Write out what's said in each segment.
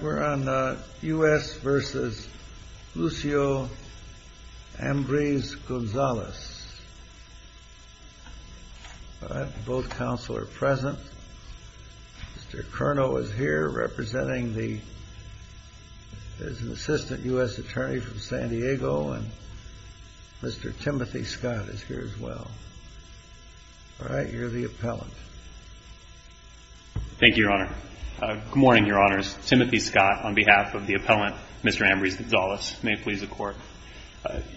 We are on U.S. v. Lucio Ambriz-Gonzalez. Both counsel are present. Mr. Cerno is here representing the Assistant U.S. Attorney from San Diego. Mr. Timothy Scott is here as well. You are the appellant. Mr. Cerno Thank you, Your Honor. Good morning, Your Honors. Timothy Scott on behalf of the appellant, Mr. Ambriz-Gonzalez, may it please the Court.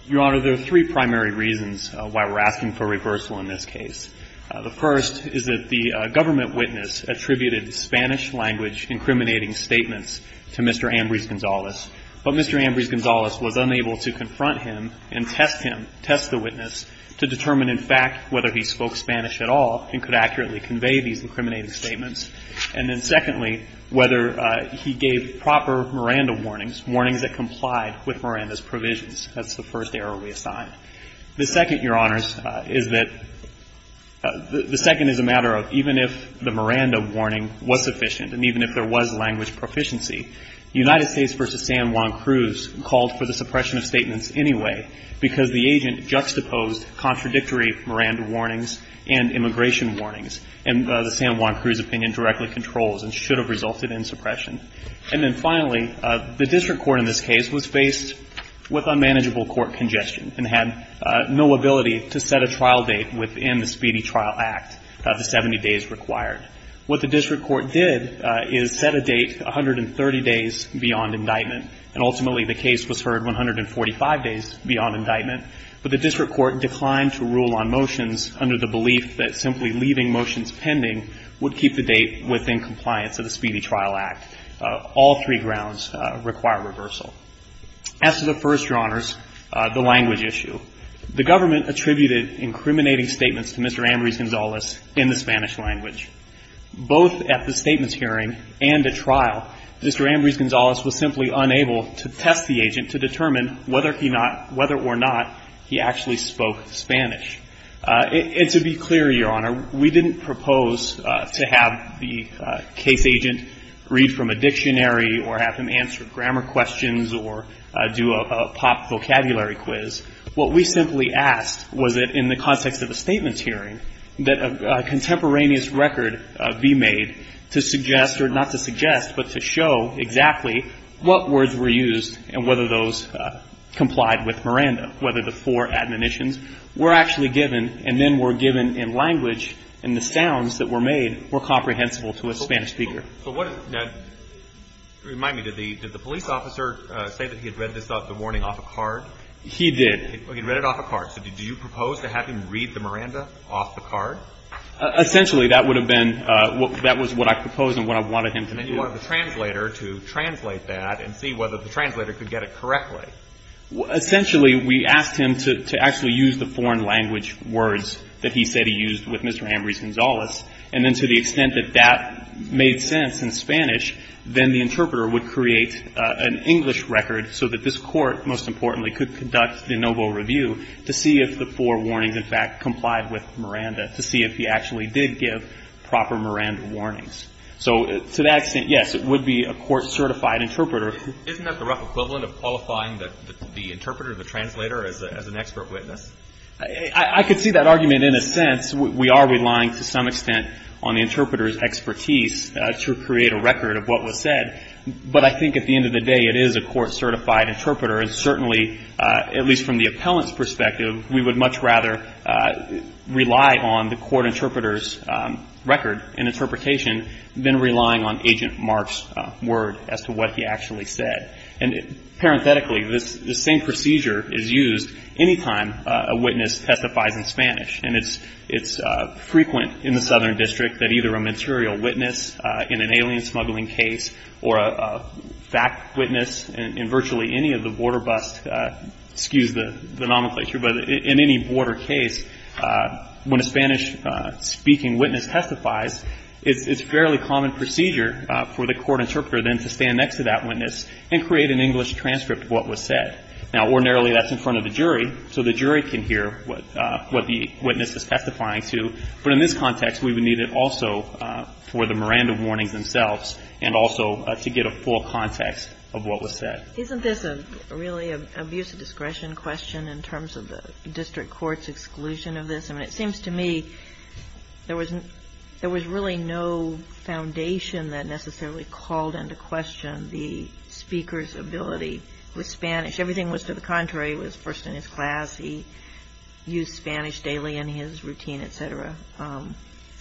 Your Honor, there are three primary reasons why we're asking for reversal in this case. The first is that the government witness attributed Spanish-language incriminating statements to Mr. Ambriz-Gonzalez, but Mr. Ambriz-Gonzalez was unable to confront him and test him, test the witness, to determine, in fact, whether he spoke Spanish at all and could accurately convey these incriminating statements, and then, secondly, whether he gave proper Miranda warnings, warnings that complied with Miranda's provisions. That's the first error we assigned. The second, Your Honors, is that the second is a matter of even if the Miranda warning was sufficient and even if there was language proficiency, United States v. San Juan Cruz called for the suppression of statements anyway because the agent juxtaposed contradictory Miranda warnings and immigration warnings, and the San Juan Cruz opinion directly controls and should have resulted in suppression. And then, finally, the district court in this case was faced with unmanageable court congestion and had no ability to set a trial date within the Speedy Trial Act, the 70 days required. What the district court did is set a date 130 days beyond indictment, and ultimately, the case was heard 145 days beyond indictment, but the district court declined to rule on motions under the belief that simply leaving motions pending would keep the date within compliance of the Speedy Trial Act. All three grounds require As to the first, Your Honors, the language issue, the government attributed incriminating statements to Mr. Ambrose Gonzalez in the Spanish language. Both at the statements hearing and at trial, Mr. Ambrose Gonzalez was simply unable to test the agent to determine whether or not he actually spoke Spanish. And to be clear, Your Honor, we didn't propose to have the case agent read from a dictionary or have him answer grammar questions or do a pop vocabulary quiz. What we simply asked was that in the context of a statements hearing, that a contemporaneous record be made to suggest, or not to suggest, but to show exactly what words were used and whether those complied with Miranda, whether the four admonitions were actually given and then were given in language and the sounds that were made were comprehensible to a Spanish speaker. So what is – now, remind me, did the police officer say that he had read this out of the warning off a card? He did. He read it off a card. So did you propose to have him read the Miranda off the card? Essentially, that would have been – that was what I proposed and what I wanted him to do. And then you wanted the translator to translate that and see whether the translator could get it correctly. Essentially, we asked him to actually use the foreign language words that he said he used with Mr. Ambrose Gonzalez, and then to the extent that that made sense in Spanish, then the interpreter would create an English record so that this Court, most importantly, could conduct de novo review to see if the four warnings, in fact, complied with Miranda, to see if he actually did give proper Miranda warnings. So to that extent, yes, it would be a court-certified interpreter. Isn't that the rough equivalent of qualifying the interpreter, the translator, as an expert witness? I could see that argument in a sense. We are relying to some extent on the interpreter's expertise to create a record of what was said. But I think at the end of the day, it is a court-certified interpreter. And certainly, at least from the appellant's perspective, we would much rather rely on the court interpreter's record and interpretation than relying on Agent Mark's word as to what he actually said. And parenthetically, this same procedure is used any time a witness testifies in Spanish. And it's frequent in the Southern District that either a material witness in an alien smuggling case or a fact witness in virtually any of the border busts, excuse the word, a Spanish-speaking witness testifies, it's a fairly common procedure for the court interpreter then to stand next to that witness and create an English transcript of what was said. Now, ordinarily, that's in front of the jury, so the jury can hear what the witness is testifying to. But in this context, we would need it also for the Miranda warnings themselves and also to get a full context of what was said. Isn't this a really abuse of discretion question in terms of the district court's exclusion of this? I mean, it seems to me there was really no foundation that necessarily called into question the speaker's ability with Spanish. Everything was to the contrary. It was first in his class. He used Spanish daily in his routine, et cetera.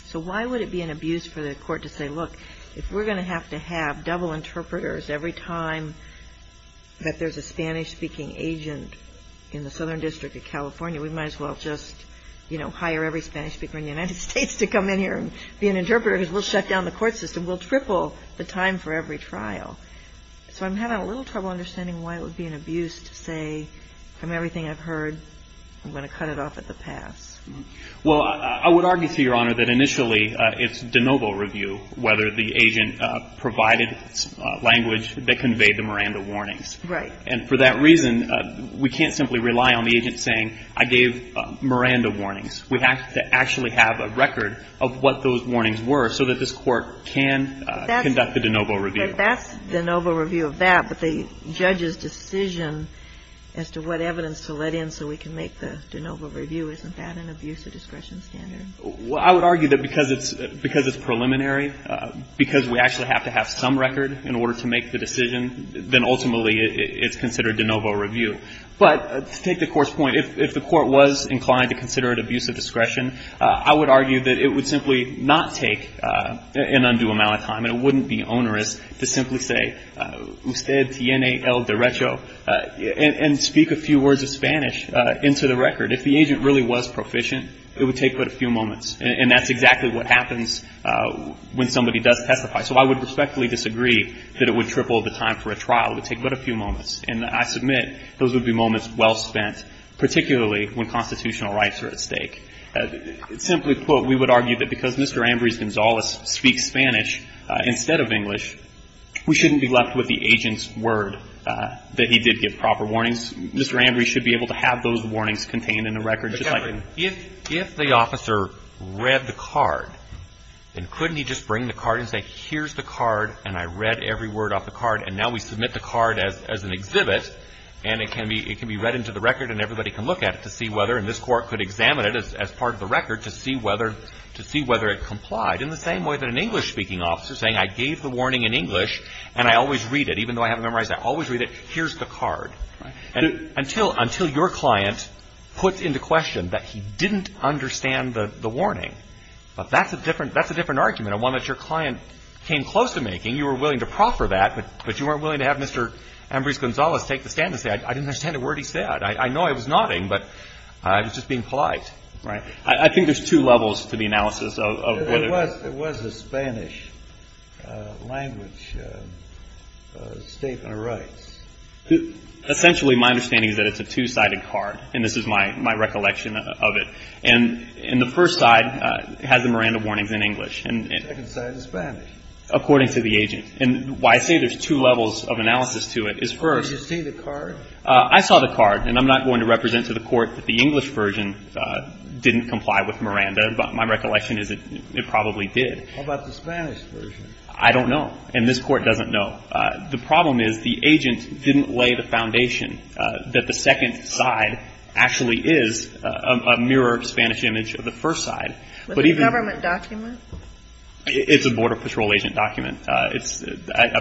So why would it be an abuse for the court to say, look, if we're going to have to have double interpreters every time that there's a Spanish-speaking agent in the Southern District of California, we might as well just, you know, hire every Spanish-speaker in the United States to come in here and be an interpreter, because we'll shut down the court system, we'll triple the time for every trial. So I'm having a little trouble understanding why it would be an abuse to say, from everything I've heard, I'm going to cut it off at the pass. Well, I would argue, Your Honor, that initially it's de novo review whether the agent provided language that conveyed the Miranda warnings. Right. And for that reason, we can't simply rely on the agent saying, I gave Miranda warnings. We have to actually have a record of what those warnings were so that this court can conduct the de novo review. That's de novo review of that, but the judge's decision as to what evidence to let in so we can make the de novo review, isn't that an abuse of discretion standard? Well, I would argue that because it's preliminary, because we actually have to have some record in order to make the decision, then ultimately it's considered de novo review. But to take the court's point, if the court was inclined to consider it abuse of discretion, I would argue that it would simply not take an undue amount of time. And it wouldn't be onerous to simply say, usted tiene el derecho, and speak a few words of Spanish into the record. If the agent really was proficient, it would take but a few moments. And that's exactly what happens when somebody does testify. So I would respectfully disagree that it would triple the time for a trial. It would take but a few moments. And I submit those would be moments well spent, particularly when constitutional rights are at stake. Simply put, we would argue that because Mr. Ambrose Gonzalez speaks Spanish instead of English, we shouldn't be left with the agent's word that he did give proper warnings. Mr. Ambrose should be able to have those warnings contained in the record. If the officer read the card, then couldn't he just bring the card and say, here's the card, and I read every word off the card, and now we submit the card as an exhibit, and it can be read into the record, and everybody can look at it to see whether and this court could examine it as part of the record to see whether it complied. In the same way that an English-speaking officer saying, I gave the warning in English and I always read it, even though I haven't memorized it, I always read it, here's the card. And until your client puts into question that he didn't understand the warning. But that's a different argument, and one that your client came close to making. You were willing to proffer that, but you weren't willing to have Mr. Ambrose Gonzalez take the stand and say, I didn't understand a word he said. I know I was nodding, but I was just being polite, right? I think there's two levels to the analysis of what it was. It was a Spanish language statement of rights. Essentially, my understanding is that it's a two-sided card, and this is my recollection of it. And the first side has the Miranda warnings in English. The second side is Spanish. According to the agent. And why I say there's two levels of analysis to it is first. Did you see the card? I saw the card, and I'm not going to represent to the Court that the English version didn't comply with Miranda, but my recollection is it probably did. How about the Spanish version? I don't know, and this Court doesn't know. The problem is the agent didn't lay the foundation that the second side actually is a mirror Spanish image of the first side. Was it a government document? It's a Border Patrol agent document. I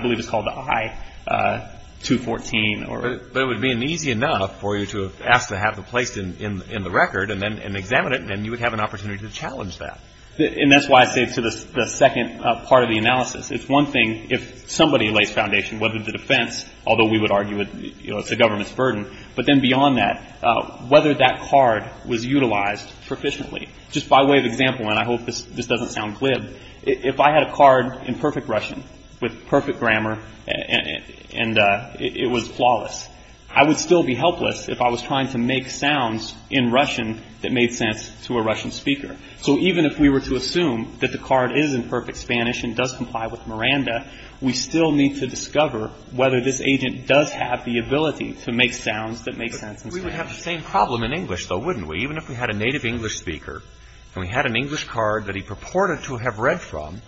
believe it's called the I-214. But it would have been easy enough for you to have asked to have it placed in the record and then examine it, and then you would have an opportunity to challenge that. And that's why I say to the second part of the analysis, it's one thing if somebody lays foundation, whether the defense, although we would argue it's a government's burden, but then beyond that, whether that card was utilized proficiently. Just by way of example, and I hope this doesn't sound glib, if I had a card in perfect Russian with perfect grammar and it was flawless, I would still be helpless if I was trying to make sounds in Russian that made sense to a Russian speaker. So even if we were to assume that the card is in perfect Spanish and does comply with the law, we would need to discover whether this agent does have the ability to make sounds that make sense in Spanish. But we would have the same problem in English, though, wouldn't we? Even if we had a native English speaker, and we had an English card that he purported to have read from,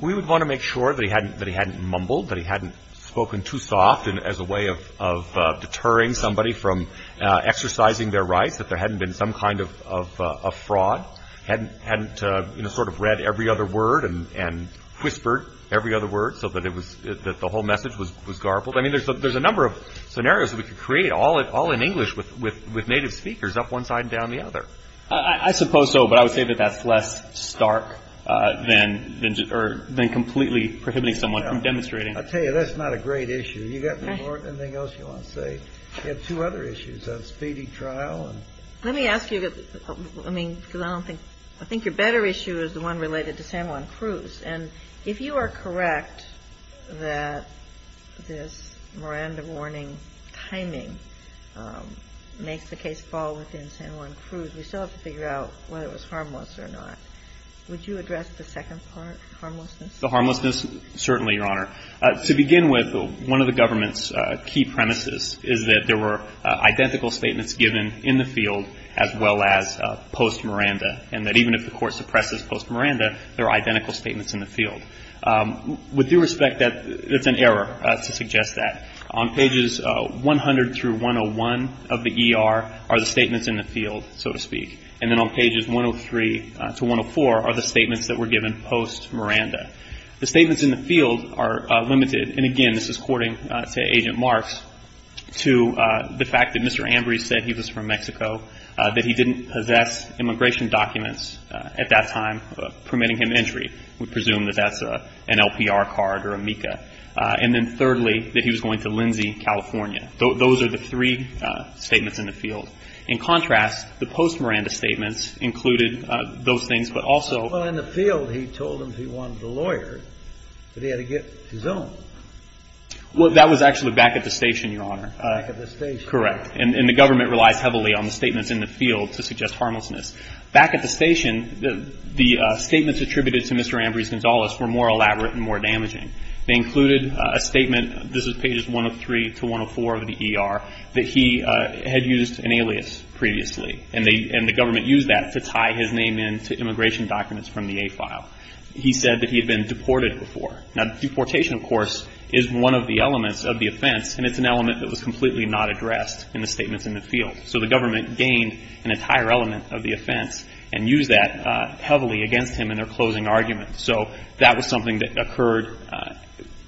we would want to make sure that he hadn't mumbled, that he hadn't spoken too soft as a way of deterring somebody from exercising their rights, that there hadn't been some kind of fraud, hadn't sort of read every other word and whispered every other word so that the whole message was garbled. I mean, there's a number of scenarios that we could create, all in English with native speakers, up one side and down the other. I suppose so, but I would say that that's less stark than completely prohibiting someone from demonstrating. I'll tell you, that's not a great issue. You've got more than anything else you want to say. You have two other issues. That's feeding trial. Let me ask you, because I think your better issue is the one related to San Juan Cruz. And if you are correct that this Miranda warning timing makes the case fall within San Juan Cruz, we still have to figure out whether it was harmless or not. Would you address the second part, harmlessness? The harmlessness, certainly, Your Honor. To begin with, one of the government's key premises is that there were identical statements given in the field as well as post-Miranda, and that even if the court suppresses post-Miranda, there are identical statements in the field. With due respect, that's an error to suggest that. On pages 100 through 101 of the ER are the statements in the field, so to speak. And then on pages 103 to 104 are the statements that were given post-Miranda. The statements in the field are limited, and again, this is according to Agent Marks, to the fact that Mr. Ambry said he was from Mexico, that he didn't possess immigration documents at that time permitting him entry. We presume that that's an LPR card or a MECA. And then thirdly, that he was going to Lindsay, California. Those are the three statements in the field. In contrast, the post-Miranda statements included those things, but also — Well, in the field, he told them he wanted a lawyer, but he had to get his own. Well, that was actually back at the station, Your Honor. Back at the station. Correct. And the government relies heavily on the statements in the field to suggest harmlessness. Back at the station, the statements attributed to Mr. Ambry Gonzalez were more elaborate and more damaging. They included a statement — this is pages 103 to 104 of the ER — that he had used an alias previously, and the government used that to tie his name into immigration documents from the A-file. He said that he had been deported before. Now, deportation, of course, is one of the elements of the offense, and it's an element that was completely not addressed in the statements in the field. So the government gained an entire element of the offense and used that heavily against him in their closing arguments. So that was something that occurred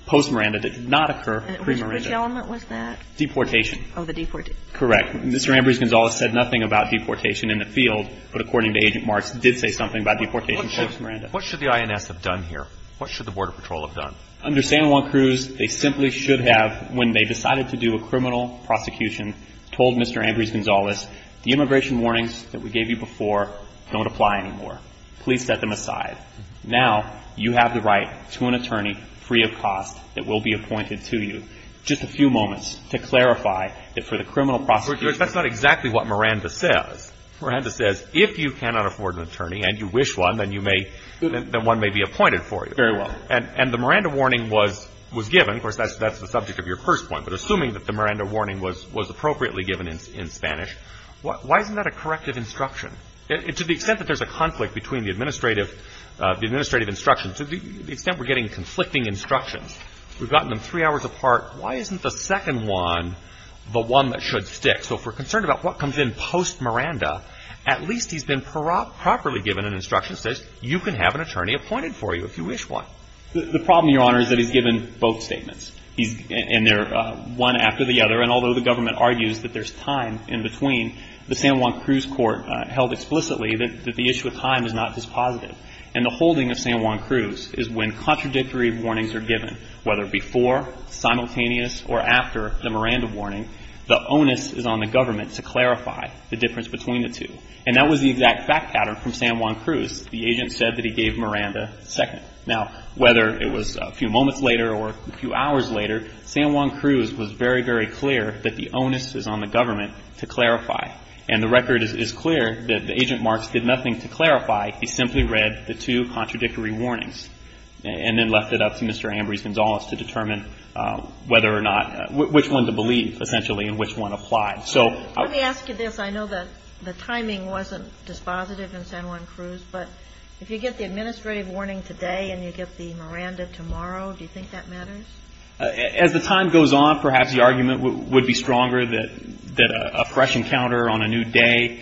post-Miranda that did not occur pre-Miranda. Which element was that? Deportation. Oh, the deportation. Correct. Mr. Ambry Gonzalez said nothing about deportation in the field, but according to Agent Marks, did say something about deportation post-Miranda. What should the INS have done here? What should the Border Patrol have done? Under San Juan Cruz, they simply should have, when they decided to do a criminal prosecution, told Mr. Ambry Gonzalez, the immigration warnings that we gave you before don't apply anymore. Please set them aside. Now, you have the right to an attorney free of cost that will be appointed to you. Just a few moments to clarify that for the criminal prosecution. That's not exactly what Miranda says. Miranda says, if you cannot afford an attorney and you wish one, then you may, then one may be appointed for you. Very well. And the Miranda warning was given. Of course, that's the subject of your first point. But assuming that the Miranda warning was appropriately given in Spanish, why isn't that a corrective instruction? To the extent that there's a conflict between the administrative instructions, to the extent we're getting conflicting instructions, we've gotten them three hours apart. Why isn't the second one the one that should stick? So if we're concerned about what comes in post-Miranda, at least he's been properly given an instruction that says, you can have an attorney appointed for you if you wish one. The problem, Your Honor, is that he's given both statements. And they're one after the other. And although the government argues that there's time in between, the San Juan Cruz court held explicitly that the issue of time is not dispositive. And the holding of San Juan Cruz is when contradictory warnings are given, whether before, simultaneous, or after the Miranda warning. The onus is on the government to clarify the difference between the two. And that was the exact fact pattern from San Juan Cruz. The agent said that he gave Miranda second. Now, whether it was a few moments later or a few hours later, San Juan Cruz was very, very clear that the onus is on the government to clarify. And the record is clear that the agent Marks did nothing to clarify. He simply read the two contradictory warnings. And then left it up to Mr. Ambrose Gonzalez to determine whether or not, which one to believe, essentially, and which one applied. So let me ask you this. I know that the timing wasn't dispositive in San Juan Cruz. But if you get the administrative warning today and you get the Miranda tomorrow, do you think that matters? As the time goes on, perhaps the argument would be stronger that a fresh encounter on a new day,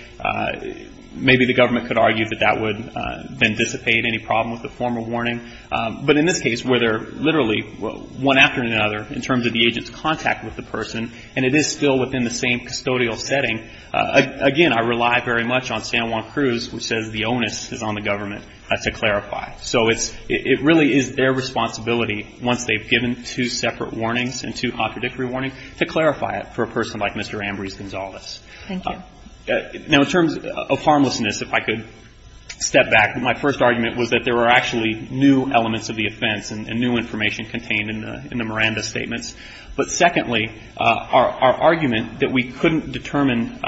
maybe the government could argue that that would then dissipate any problem with the former warning. But in this case, where they're literally one after another in terms of the agent's contact with the person, and it is still within the same custodial setting, again, I rely very much on San Juan Cruz, which says the onus is on the government to clarify. So it's – it really is their responsibility, once they've given two separate warnings and two contradictory warnings, to clarify it for a person like Mr. Ambrose Gonzalez. Thank you. Now, in terms of harmlessness, if I could step back. My first argument was that there were actually new elements of the offense and new information contained in the Miranda statements. But secondly, our argument that we couldn't determine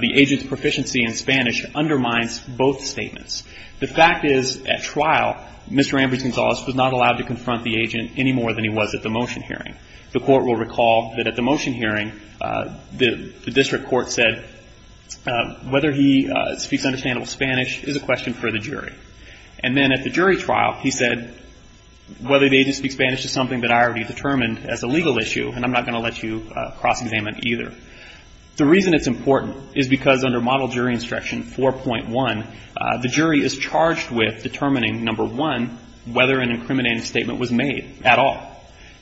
the agent's proficiency in Spanish undermines both statements. The fact is, at trial, Mr. Ambrose Gonzalez was not allowed to confront the agent any more than he was at the motion hearing. The Court will recall that at the motion hearing, the district court said whether he speaks understandable Spanish is a question for the jury. And then at the jury trial, he said, whether the agent speaks Spanish is something that I already determined as a legal issue, and I'm not going to let you cross-examine either. The reason it's important is because under Model Jury Instruction 4.1, the jury is charged with determining, number one, whether an incriminating statement was made at all,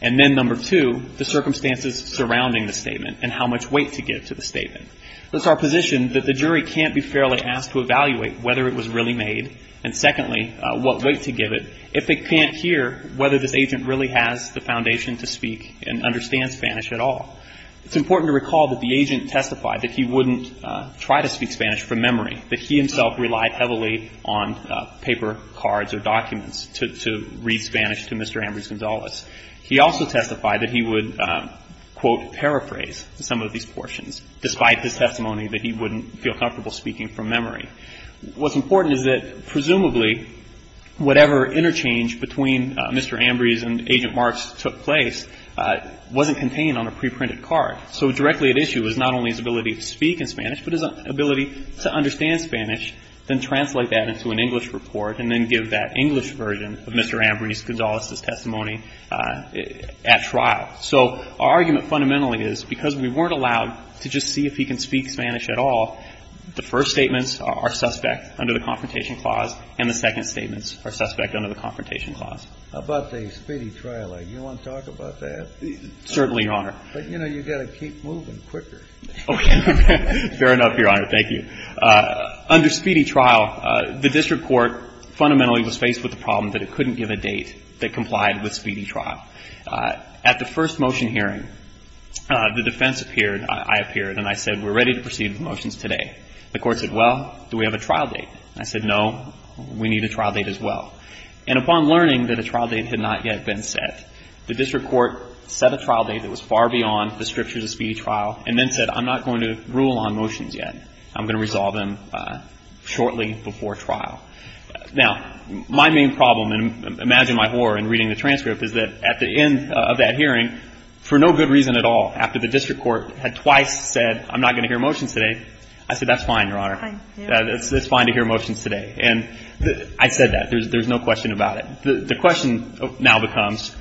and then, number two, the circumstances surrounding the statement and how much weight to give to the statement. It's our position that the jury can't be fairly asked to evaluate whether it was really made, and secondly, what weight to give it if they can't hear whether this is the foundation to speak and understand Spanish at all. It's important to recall that the agent testified that he wouldn't try to speak Spanish from memory, that he himself relied heavily on paper cards or documents to read Spanish to Mr. Ambrose Gonzalez. He also testified that he would, quote, paraphrase some of these portions, despite his testimony that he wouldn't feel comfortable speaking from memory. What's important is that, presumably, whatever interchange between Mr. Ambrose and Agent Marks took place wasn't contained on a preprinted card. So directly at issue is not only his ability to speak in Spanish, but his ability to understand Spanish, then translate that into an English report, and then give that English version of Mr. Ambrose Gonzalez's testimony at trial. So our argument fundamentally is because we weren't allowed to just see if he can speak Spanish at all, the first statements are suspect under the Confrontation Clause, and the second statements are suspect under the Confrontation Clause. How about the speedy trial? Do you want to talk about that? Certainly, Your Honor. But, you know, you've got to keep moving quicker. Okay. Fair enough, Your Honor. Thank you. Under speedy trial, the district court fundamentally was faced with the problem that it couldn't give a date that complied with speedy trial. At the first motion hearing, the defense appeared, I appeared, and I said, we're ready to proceed with motions today. The Court said, well, do we have a trial date? I said, no, we need a trial date as well. And upon learning that a trial date had not yet been set, the district court set a trial date that was far beyond the strictures of speedy trial, and then said, I'm not going to rule on motions yet. I'm going to resolve them shortly before trial. Now, my main problem, and imagine my horror in reading the transcript, is that at the end of that hearing, for no good reason at all, after the district court had twice said, I'm not going to hear motions today, I said, that's fine, Your Honor. That's fine to hear motions today. And I said that. There's no question about it. The question now becomes,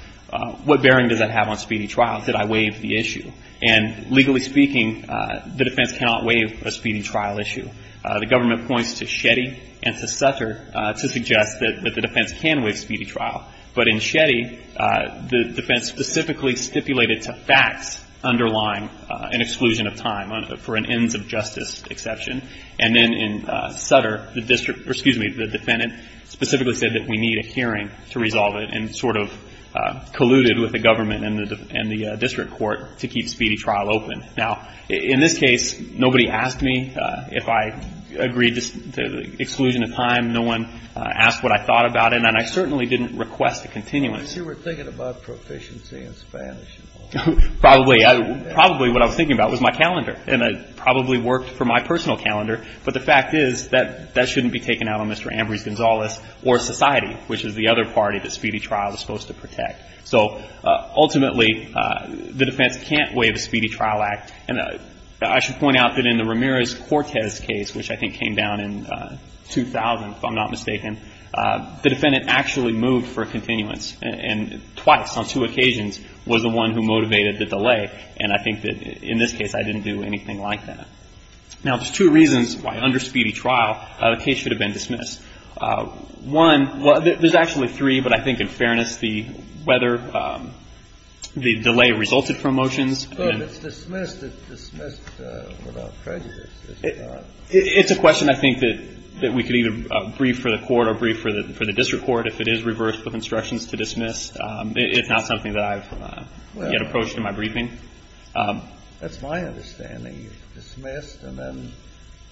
what bearing does that have on speedy trial? Did I waive the issue? And legally speaking, the defense cannot waive a speedy trial issue. The government points to Shetty and to Sutter to suggest that the defense can waive speedy trial. But in Shetty, the defense specifically stipulated to facts underlying an exclusion of time for an ends of justice exception. And then in Sutter, the district, or excuse me, the defendant specifically said that we need a hearing to resolve it, and sort of colluded with the government and the district court to keep speedy trial open. Now, in this case, nobody asked me if I agreed to exclusion of time. No one asked what I thought about it. And I certainly didn't request a continuance. And you were thinking about proficiency in Spanish. Probably. Probably what I was thinking about was my calendar. And it probably worked for my personal calendar. But the fact is that that shouldn't be taken out on Mr. Ambrose Gonzalez or society, which is the other party that speedy trial is supposed to protect. So ultimately, the defense can't waive a speedy trial act. And I should point out that in the Ramirez-Cortez case, which I think came down in 2000, if I'm not mistaken, the defendant actually moved for a continuance. And twice, on two occasions, was the one who motivated the delay. And I think that in this case, I didn't do anything like that. Now, there's two reasons why under speedy trial, the case should have been dismissed. One, well, there's actually three, but I think in fairness, the weather, the delay resulted from motions. It's dismissed without prejudice. It's a question I think that we could either brief for the court or brief for the district court if it is reversed with instructions to dismiss. It's not something that I've yet approached in my briefing. That's my understanding. It's dismissed and then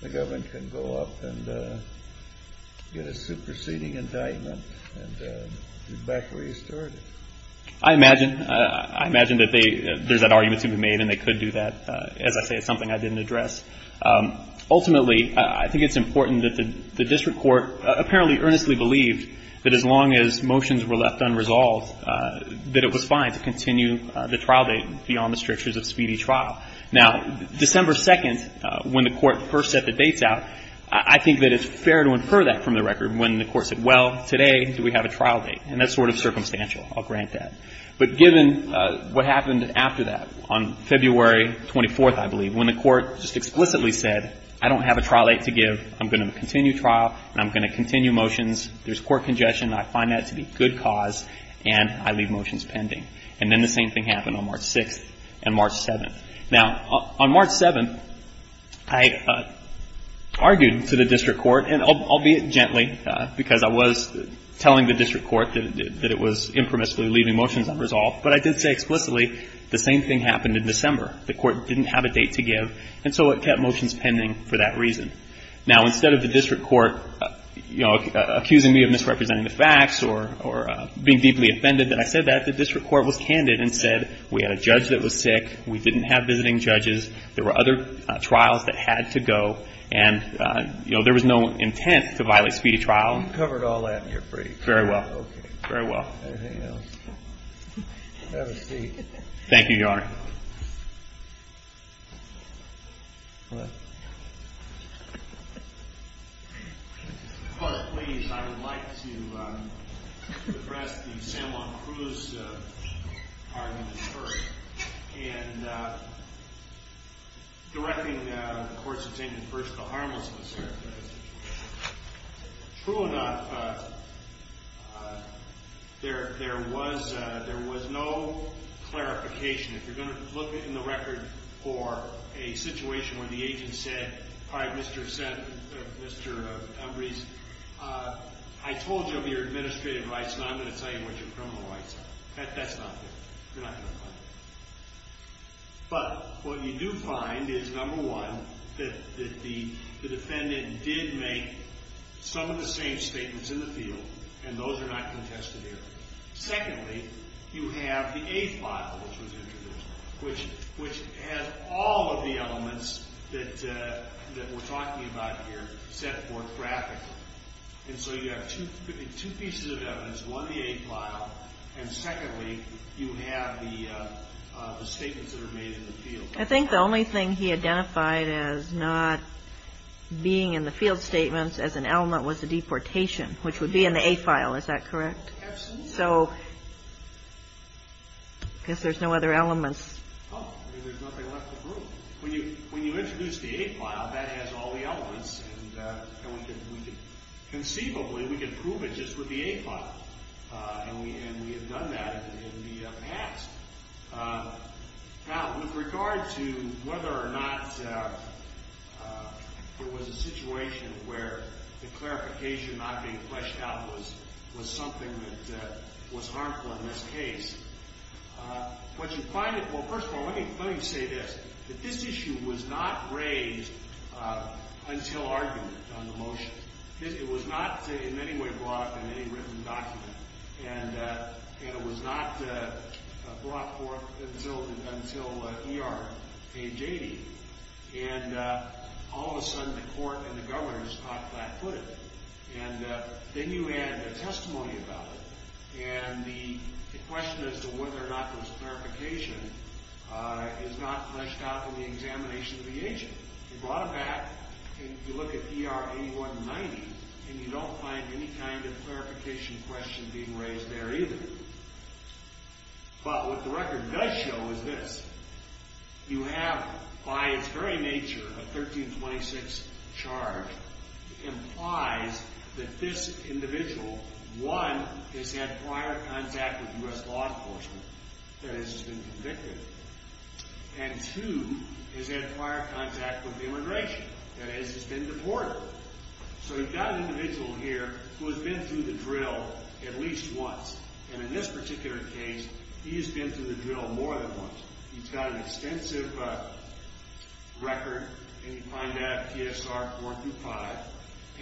the government can go up and get a superseding indictment and get back where you started. I imagine that there's that argument to be made and they could do that. As I say, it's something I didn't address. Ultimately, I think it's important that the district court apparently earnestly believed that as long as motions were left unresolved, that it was fine to continue the trial date beyond the strictures of speedy trial. Now, December 2nd, when the court first set the dates out, I think that it's fair to infer that from the record when the court said, well, today do we have a trial date, and that's sort of circumstantial, I'll grant that. But given what happened after that, on February 24th, I believe, when the court just explicitly said, I don't have a trial date to give, I'm going to continue trial and I'm going to continue motions, there's court congestion, I find that to be good cause, and I leave motions pending. And then the same thing happened on March 6th and March 7th. Now, on March 7th, I argued to the district court, and I'll be it gently, because I was telling the district court that it was impermissibly leaving motions unresolved, but I did say explicitly the same thing happened in December. The court didn't have a date to give, and so it kept motions pending for that reason. Now, instead of the district court, you know, accusing me of misrepresenting the facts or being deeply offended that I said that, the district court was candid and said we had a judge that was sick, we didn't have visiting judges, there were other trials that had to go, and, you know, there was no intent to violate speedy trial. You covered all that in your brief. Very well. Okay. Very well. Anything else? Have a seat. Thank you, Your Honor. Well, ladies, I would like to address the San Juan Cruz argument first, and directing the court's objection first to the harmlessness here. True or not, there was no clarification. If you're going to look in the record for a situation where the agent said, all right, Mr. Embree, I told you of your administrative rights, and I'm going to tell you what your criminal rights are. That's not fair. You're not going to find that. But what you do find is, number one, that the defendant did make some of the same statements in the field, and those are not contested here. Secondly, you have the eighth file which was introduced, which has all of the elements that we're talking about here set forth graphically. And so you have two pieces of evidence, one of the eighth file, and secondly, you have the statements that are made in the field. I think the only thing he identified as not being in the field statements as an element was the deportation, which would be in the eighth file. Is that correct? Absolutely. So I guess there's no other elements. There's nothing left to prove. When you introduce the eighth file, that has all the elements, and conceivably, we can prove it just with the eighth file, and we have done that in the past. Now, with regard to whether or not there was a situation where the clarification not being fleshed out was something that was harmful in this case, what you find is, well, first of all, let me say this, that this issue was not raised until argument on the motion. It was not in any way brought up in any written document, and it was not brought forth until ER 880. And all of a sudden, the court and the governor stopped that put it. And then you add a testimony about it, and the question as to whether or not there was a clarification is not fleshed out in the examination of the agent. You brought it back, and you look at ER 8190, and you don't find any kind of clarification question being raised there either. But what the record does show is this. You have, by its very nature, a 1326 charge implies that this individual, one, has had prior contact with U.S. law enforcement, that is, has been convicted, and two, has had prior contact with immigration, that is, has been deported. So you've got an individual here who has been through the drill at least once, and in this particular case, he has been through the drill more than once. He's got an extensive record, and you find that at PSR 4 through 5,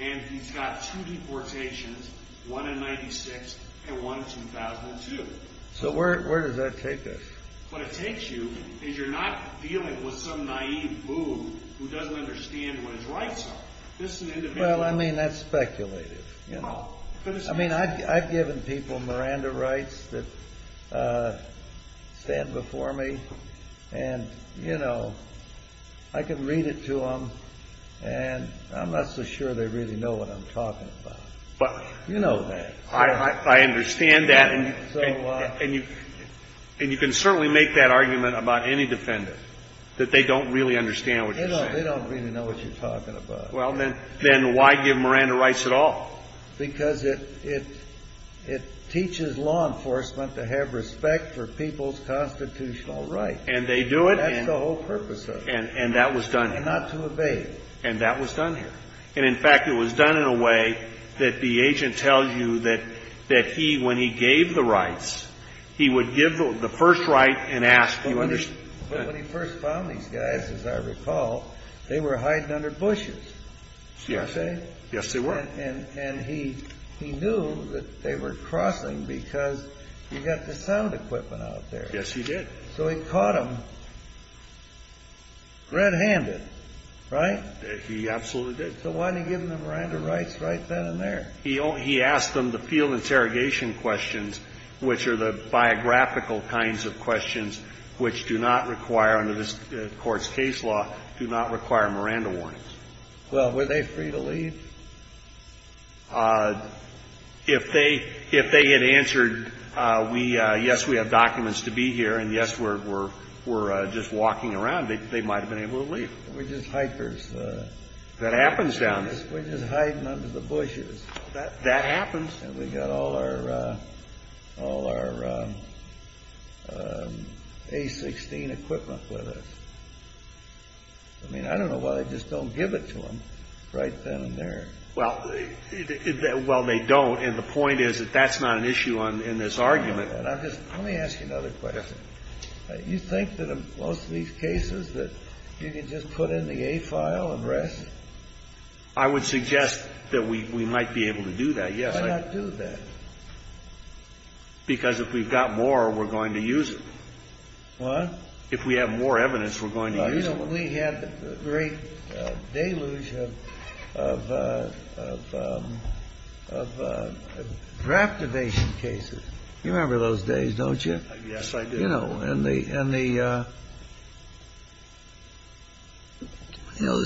and he's got two deportations, one in 96 and one in 2002. So where does that take us? What it takes you is you're not dealing with some naive fool who doesn't understand what his rights are. This is an individual... Well, I mean, that's speculative. I mean, I've given people Miranda rights that stand before me, and, you know, I can read it to them, and I'm not so sure they really know what I'm talking about. But... You know that. I understand that, and you can certainly make that argument about any defendant, that they don't really understand what you're saying. They don't really know what you're talking about. Well, then why give Miranda rights at all? Because it teaches law enforcement to have respect for people's constitutional rights. And they do it, and... That's the whole purpose of it. And that was done here. And not to evade. And that was done here. And, in fact, it was done in a way that the agent tells you that he, when he gave the rights, he would give the first right and ask... When he first found these guys, as I recall, they were hiding under bushes. Yes. Did I say? Yes, they were. And he knew that they were crossing because he got the sound equipment out there. Yes, he did. So he caught them red-handed, right? He absolutely did. So why didn't he give them the Miranda rights right then and there? He asked them the field interrogation questions, which are the biographical kinds of questions which do not require, under this Court's case law, do not require Miranda warnings. Well, were they free to leave? If they had answered, yes, we have documents to be here, and yes, we're just walking around, they might have been able to leave. We're just hikers. That happens down there. We're just hiding under the bushes. That happens. And we've got all our A-16 equipment with us. I mean, I don't know why they just don't give it to them right then and there. Well, they don't, and the point is that that's not an issue in this argument. Let me ask you another question. You think that in most of these cases that you can just put in the A file and rest? I would suggest that we might be able to do that, yes. Why not do that? Because if we've got more, we're going to use it. What? If we have more evidence, we're going to use it. Well, you know, we had the great deluge of raptivation cases. You remember those days, don't you? Yes, I do. You know, and the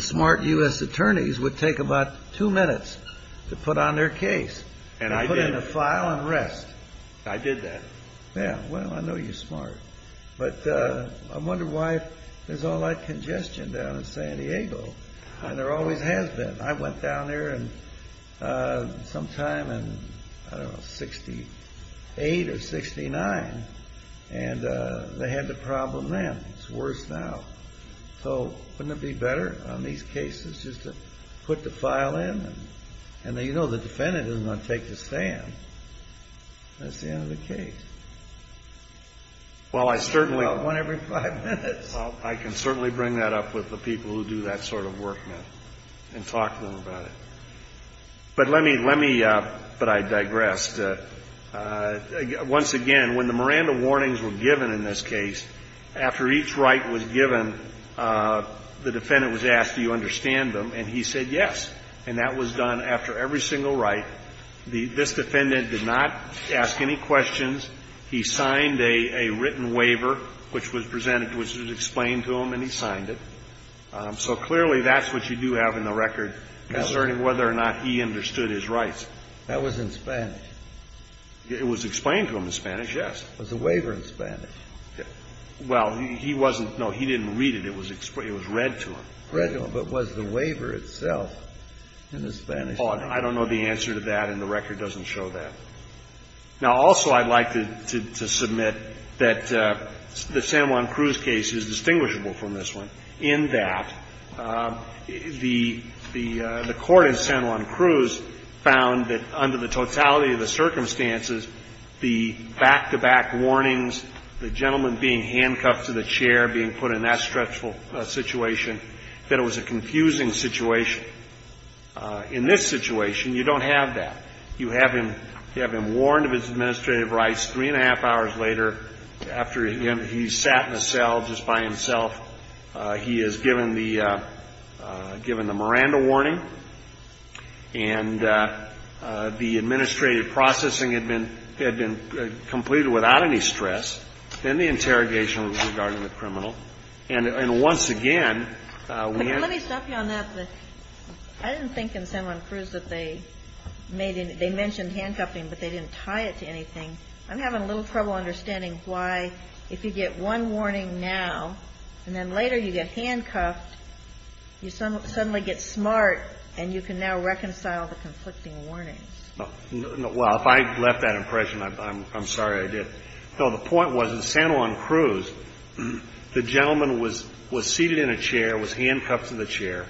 smart U.S. attorneys would take about two minutes to put on their case. And I did. To put in the file and rest. I did that. Yeah, well, I know you're smart. But I wonder why there's all that congestion down in San Diego, and there always has been. I went down there sometime in, I don't know, 68 or 69. And they had the problem then. It's worse now. So wouldn't it be better on these cases just to put the file in? And you know the defendant isn't going to take the stand. That's the end of the case. Well, I certainly. One every five minutes. Well, I can certainly bring that up with the people who do that sort of work and talk to them about it. But let me, let me, but I digress. Once again, when the Miranda warnings were given in this case, after each right was given, the defendant was asked, do you understand them? And he said yes. And that was done after every single right. This defendant did not ask any questions. He signed a written waiver which was presented, which was explained to him, and he signed it. So clearly, that's what you do have in the record concerning whether or not he understood his rights. That was in Spanish. It was explained to him in Spanish, yes. Was the waiver in Spanish? Well, he wasn't. No, he didn't read it. It was read to him. Read to him. But was the waiver itself in the Spanish? Oh, I don't know the answer to that, and the record doesn't show that. Now, also I'd like to submit that the San Juan Cruz case is distinguishable from this one in that the court in San Juan Cruz found that under the totality of the circumstances, the back-to-back warnings, the gentleman being handcuffed to the chair, being put in that stressful situation, that it was a confusing situation. In this situation, you don't have that. You have him warned of his administrative rights. Three and a half hours later, after, again, he's sat in a cell just by himself, he is given the Miranda warning, and the administrative processing had been completed without any stress. Then the interrogation was regarding the criminal. And once again, we had to... Let me stop you on that. I didn't think in San Juan Cruz that they mentioned handcuffing, but they didn't tie it to anything. I'm having a little trouble understanding why if you get one warning now, and then later you get handcuffed, you suddenly get smart, and you can now reconcile the conflicting warnings. Well, if I left that impression, I'm sorry I did. No, the point was in San Juan Cruz, the gentleman was seated in a chair, was handcuffed to the chair,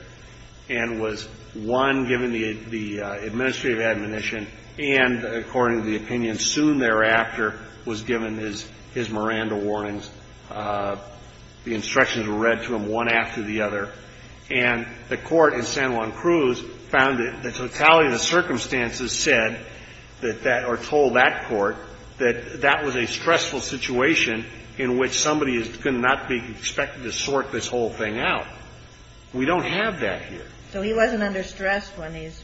and was, one, given the administrative admonition, and, according to the opinion, soon thereafter was given his Miranda warnings. The instructions were read to him one after the other. And the Court in San Juan Cruz found that the totality of the circumstances said that that or told that Court that that was a stressful situation in which somebody could not be expected to sort this whole thing out. We don't have that here. So he wasn't under stress when he's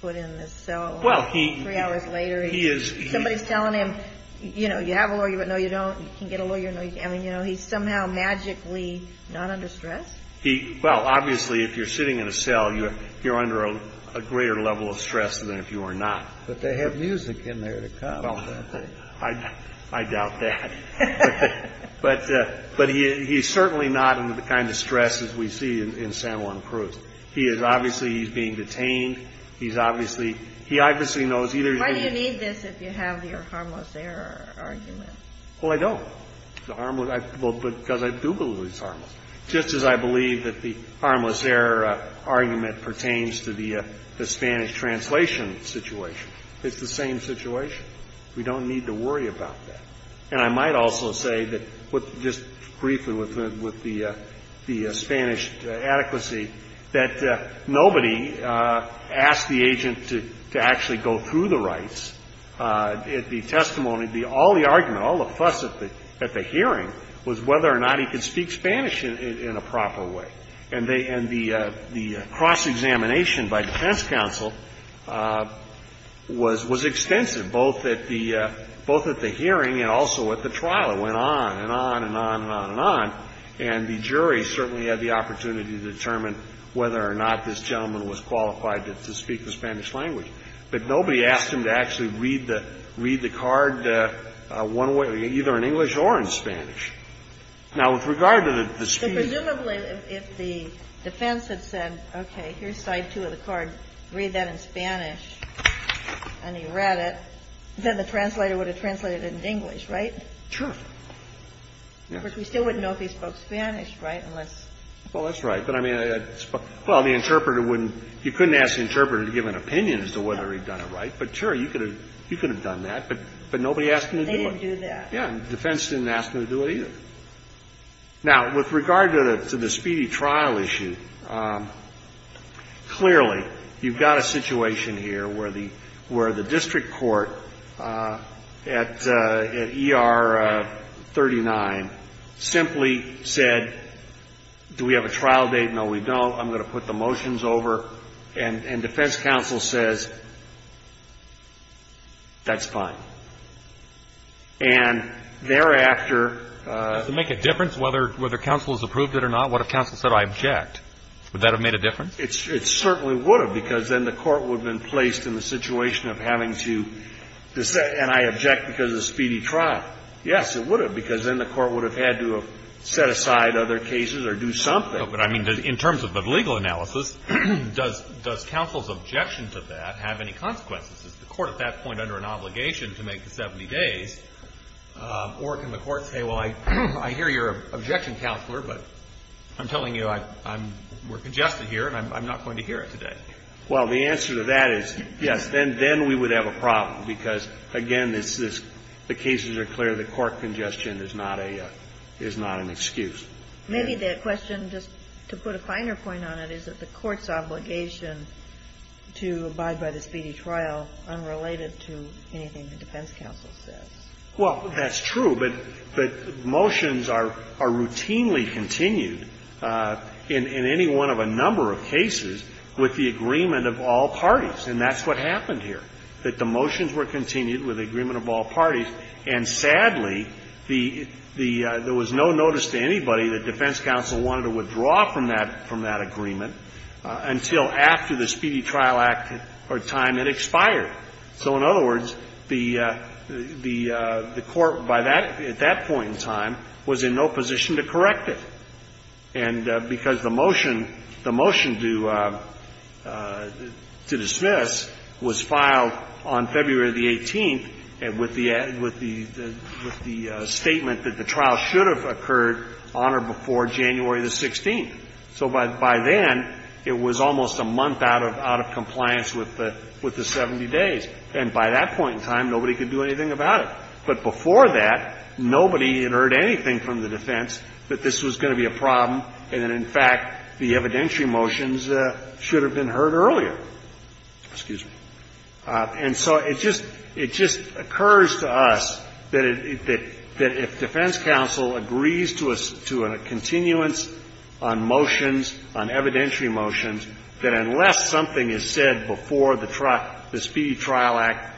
put in this cell? Well, he... Three hours later, he is... Somebody's telling him, you know, you have a lawyer, but no, you don't. You can get a lawyer, no, you can't. I mean, you know, he's somehow magically not under stress? He... Well, obviously, if you're sitting in a cell, you're under a greater level of stress than if you were not. But they have music in there to complement that. Well, I doubt that. But he's certainly not under the kind of stress as we see in San Juan Cruz. He is obviously, he's being detained. He's obviously, he obviously knows either... Why do you need this if you have your harmless error argument? Well, I don't. The harmless, well, because I do believe it's harmless. Just as I believe that the harmless error argument pertains to the Spanish translation situation. It's the same situation. We don't need to worry about that. And I might also say that, just briefly with the Spanish adequacy, that nobody asked the agent to actually go through the rights. The testimony, all the argument, all the fuss at the hearing was whether or not he could speak Spanish in a proper way. And the cross-examination by defense counsel was extensive, both at the hearing and also at the trial. It went on and on and on and on and on. And the jury certainly had the opportunity to determine whether or not this gentleman was qualified to speak the Spanish language. But nobody asked him to actually read the card one way, either in English or in Spanish. Now, with regard to the speech... Presumably, if the defense had said, okay, here's side two of the card, read that in Spanish and he read it, then the translator would have translated it in English, right? Sure. We still wouldn't know if he spoke Spanish, right, unless... Well, that's right. But, I mean, well, the interpreter wouldn't. You couldn't ask the interpreter to give an opinion as to whether he'd done it right. But, sure, you could have done that. But nobody asked him to do it. They didn't do that. The defense didn't ask him to do it, either. Now, with regard to the speedy trial issue, clearly you've got a situation here where the district court at ER 39 simply said, do we have a trial date? No, we don't. I'm going to put the motions over. And defense counsel says, that's fine. And thereafter... Does it make a difference whether counsel has approved it or not? What if counsel said, I object? Would that have made a difference? It certainly would have, because then the court would have been placed in the situation of having to say, and I object because of the speedy trial. Yes, it would have, because then the court would have had to have set aside other cases or do something. But, I mean, in terms of the legal analysis, does counsel's objection to that have any consequences? Is the court at that point under an obligation to make the 70 days, or can the court say, well, I hear you're an objection counselor, but I'm telling you we're congested here, and I'm not going to hear it today? Well, the answer to that is yes. Then we would have a problem, because, again, the cases are clear. The court congestion is not an excuse. Maybe the question, just to put a finer point on it, is that the court's obligation to abide by the speedy trial unrelated to anything the defense counsel says. Well, that's true, but motions are routinely continued in any one of a number of cases with the agreement of all parties, and that's what happened here, that the motions were continued with the agreement of all parties. And sadly, there was no notice to anybody that defense counsel wanted to withdraw from that agreement until after the Speedy Trial Act or time it expired. So in other words, the court by that at that point in time was in no position to correct it, and because the motion, the motion to dismiss was filed on February the 18th with the statement that the trial should have occurred on or before January the 16th. So by then, it was almost a month out of compliance with the 70 days. And by that point in time, nobody could do anything about it. But before that, nobody had heard anything from the defense that this was going to be a problem and that, in fact, the evidentiary motions should have been heard earlier. Excuse me. And so it just occurs to us that if defense counsel agrees to a continuance on motions, on evidentiary motions, that unless something is said before the Speedy Trial Act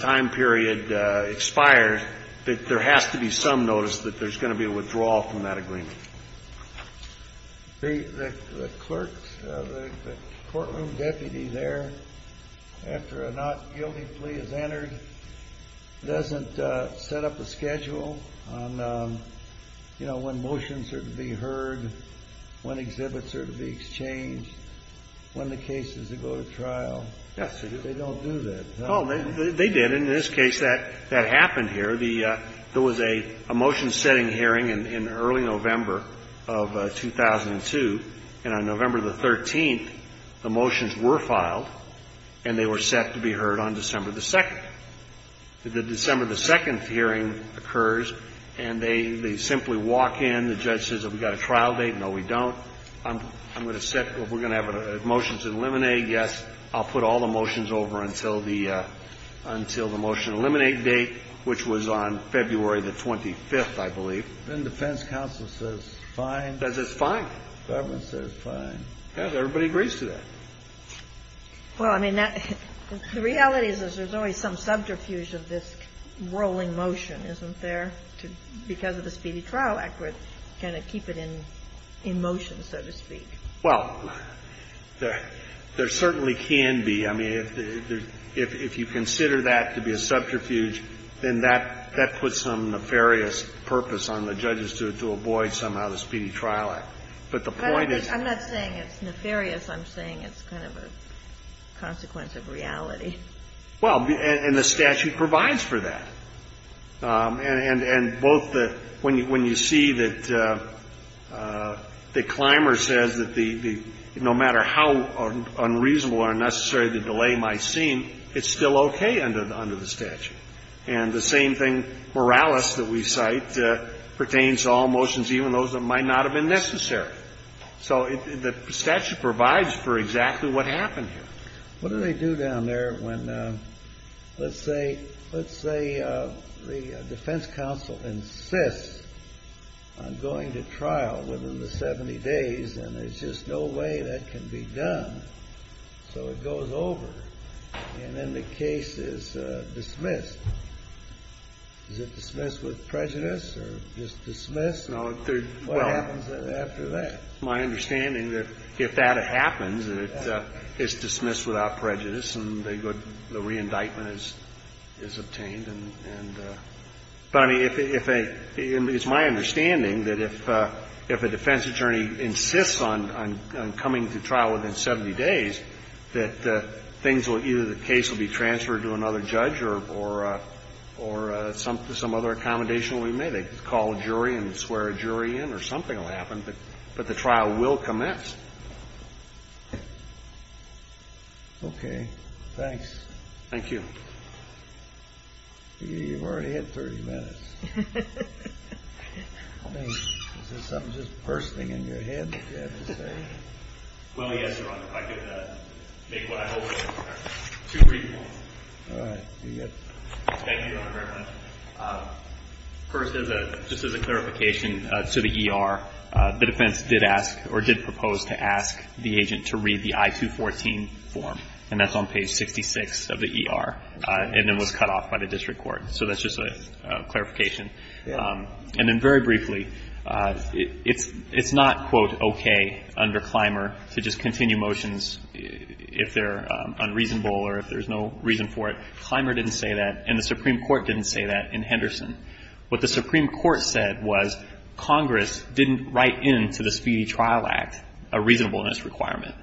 time period expires, that there has to be some notice that there's going to be a withdrawal from that agreement. The clerk, the courtroom deputy there, after a not guilty plea is entered, doesn't he have to go to the trial? And he has to go to the trial. But he doesn't set up a schedule on, you know, when motions are to be heard, when exhibits are to be exchanged, when the case is to go to trial. Yes, he does. They don't do that. No, they did. But in this case, that happened here. There was a motion-setting hearing in early November of 2002. And on November the 13th, the motions were filed, and they were set to be heard on December the 2nd. The December the 2nd hearing occurs, and they simply walk in. The judge says, have we got a trial date? No, we don't. I'm going to set, we're going to have a motion to eliminate. Yes. I'll put all the motions over until the, until the motion to eliminate date, which was on February the 25th, I believe. Then defense counsel says fine. Says it's fine. Government says fine. Yes. Everybody agrees to that. Well, I mean, the reality is there's always some subterfuge of this rolling motion, isn't there? Because of the Speedy Trial Act, we're going to keep it in motion, so to speak. Well, there certainly can be. I mean, if you consider that to be a subterfuge, then that puts some nefarious purpose on the judges to avoid somehow the Speedy Trial Act. But the point is the statute provides for that. And both the, when you see that the climber says that the, no matter how unreasonable or unnecessary the delay might seem, it's still okay under the statute. And the same thing, morales that we cite pertains to all motions, even those that might not have been necessary. So the statute provides for exactly what happened here. What do they do down there when, let's say, let's say the defense counsel insists on going to trial within the 70 days, and there's just no way that can be done, so it goes over, and then the case is dismissed. Is it dismissed with prejudice or just dismissed? What happens after that? It's my understanding that if that happens, it's dismissed without prejudice and the good, the reindictment is obtained. But I mean, if a, it's my understanding that if a defense attorney insists on coming to trial within 70 days, that things will, either the case will be transferred to another judge or some other accommodation will be made. They call a jury and swear a jury in or something will happen, but the trial will commence. Okay. Thanks. Thank you. You've already had 30 minutes. I mean, is there something just bursting in your head that you have to say? Well, yes, Your Honor. I could make what I hope is two brief points. All right. Thank you, Your Honor, very much. First, just as a clarification to the ER, the defense did ask or did propose to ask the agent to read the I-214 form, and that's on page 66 of the ER and then was cut off by the district court. So that's just a clarification. And then very briefly, it's not, quote, okay under Clymer to just continue motions if they're unreasonable or if there's no reason for it. Clymer didn't say that, and the Supreme Court didn't say that in Henderson. What the Supreme Court said was Congress didn't write into the Speedy Trial Act a reasonableness requirement.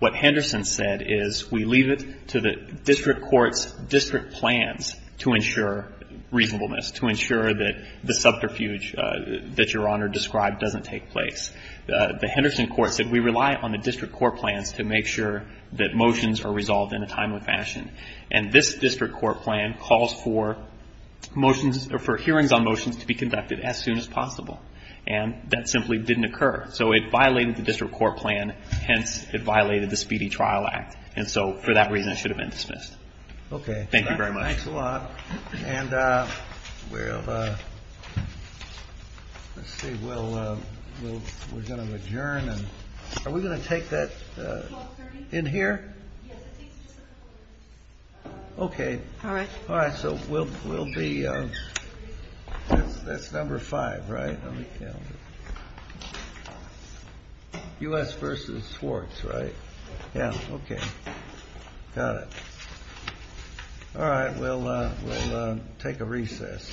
What Henderson said is we leave it to the district court's district plans to ensure reasonableness, to ensure that the subterfuge that Your Honor described doesn't take place. The Henderson court said we rely on the district court plans to make sure that motions are resolved in a timely fashion. And this district court plan calls for hearings on motions to be conducted as soon as possible. And that simply didn't occur. So it violated the district court plan, hence it violated the Speedy Trial Act. And so for that reason it should have been dismissed. Okay. Thank you very much. Thanks a lot. And we're going to adjourn. Are we going to take that in here? Yes, it takes just a couple minutes. Okay. All right. All right. So we'll be, that's number five, right? Let me count it. U.S. versus Swartz, right? Yeah. Okay. Got it. All right. We'll take a recess.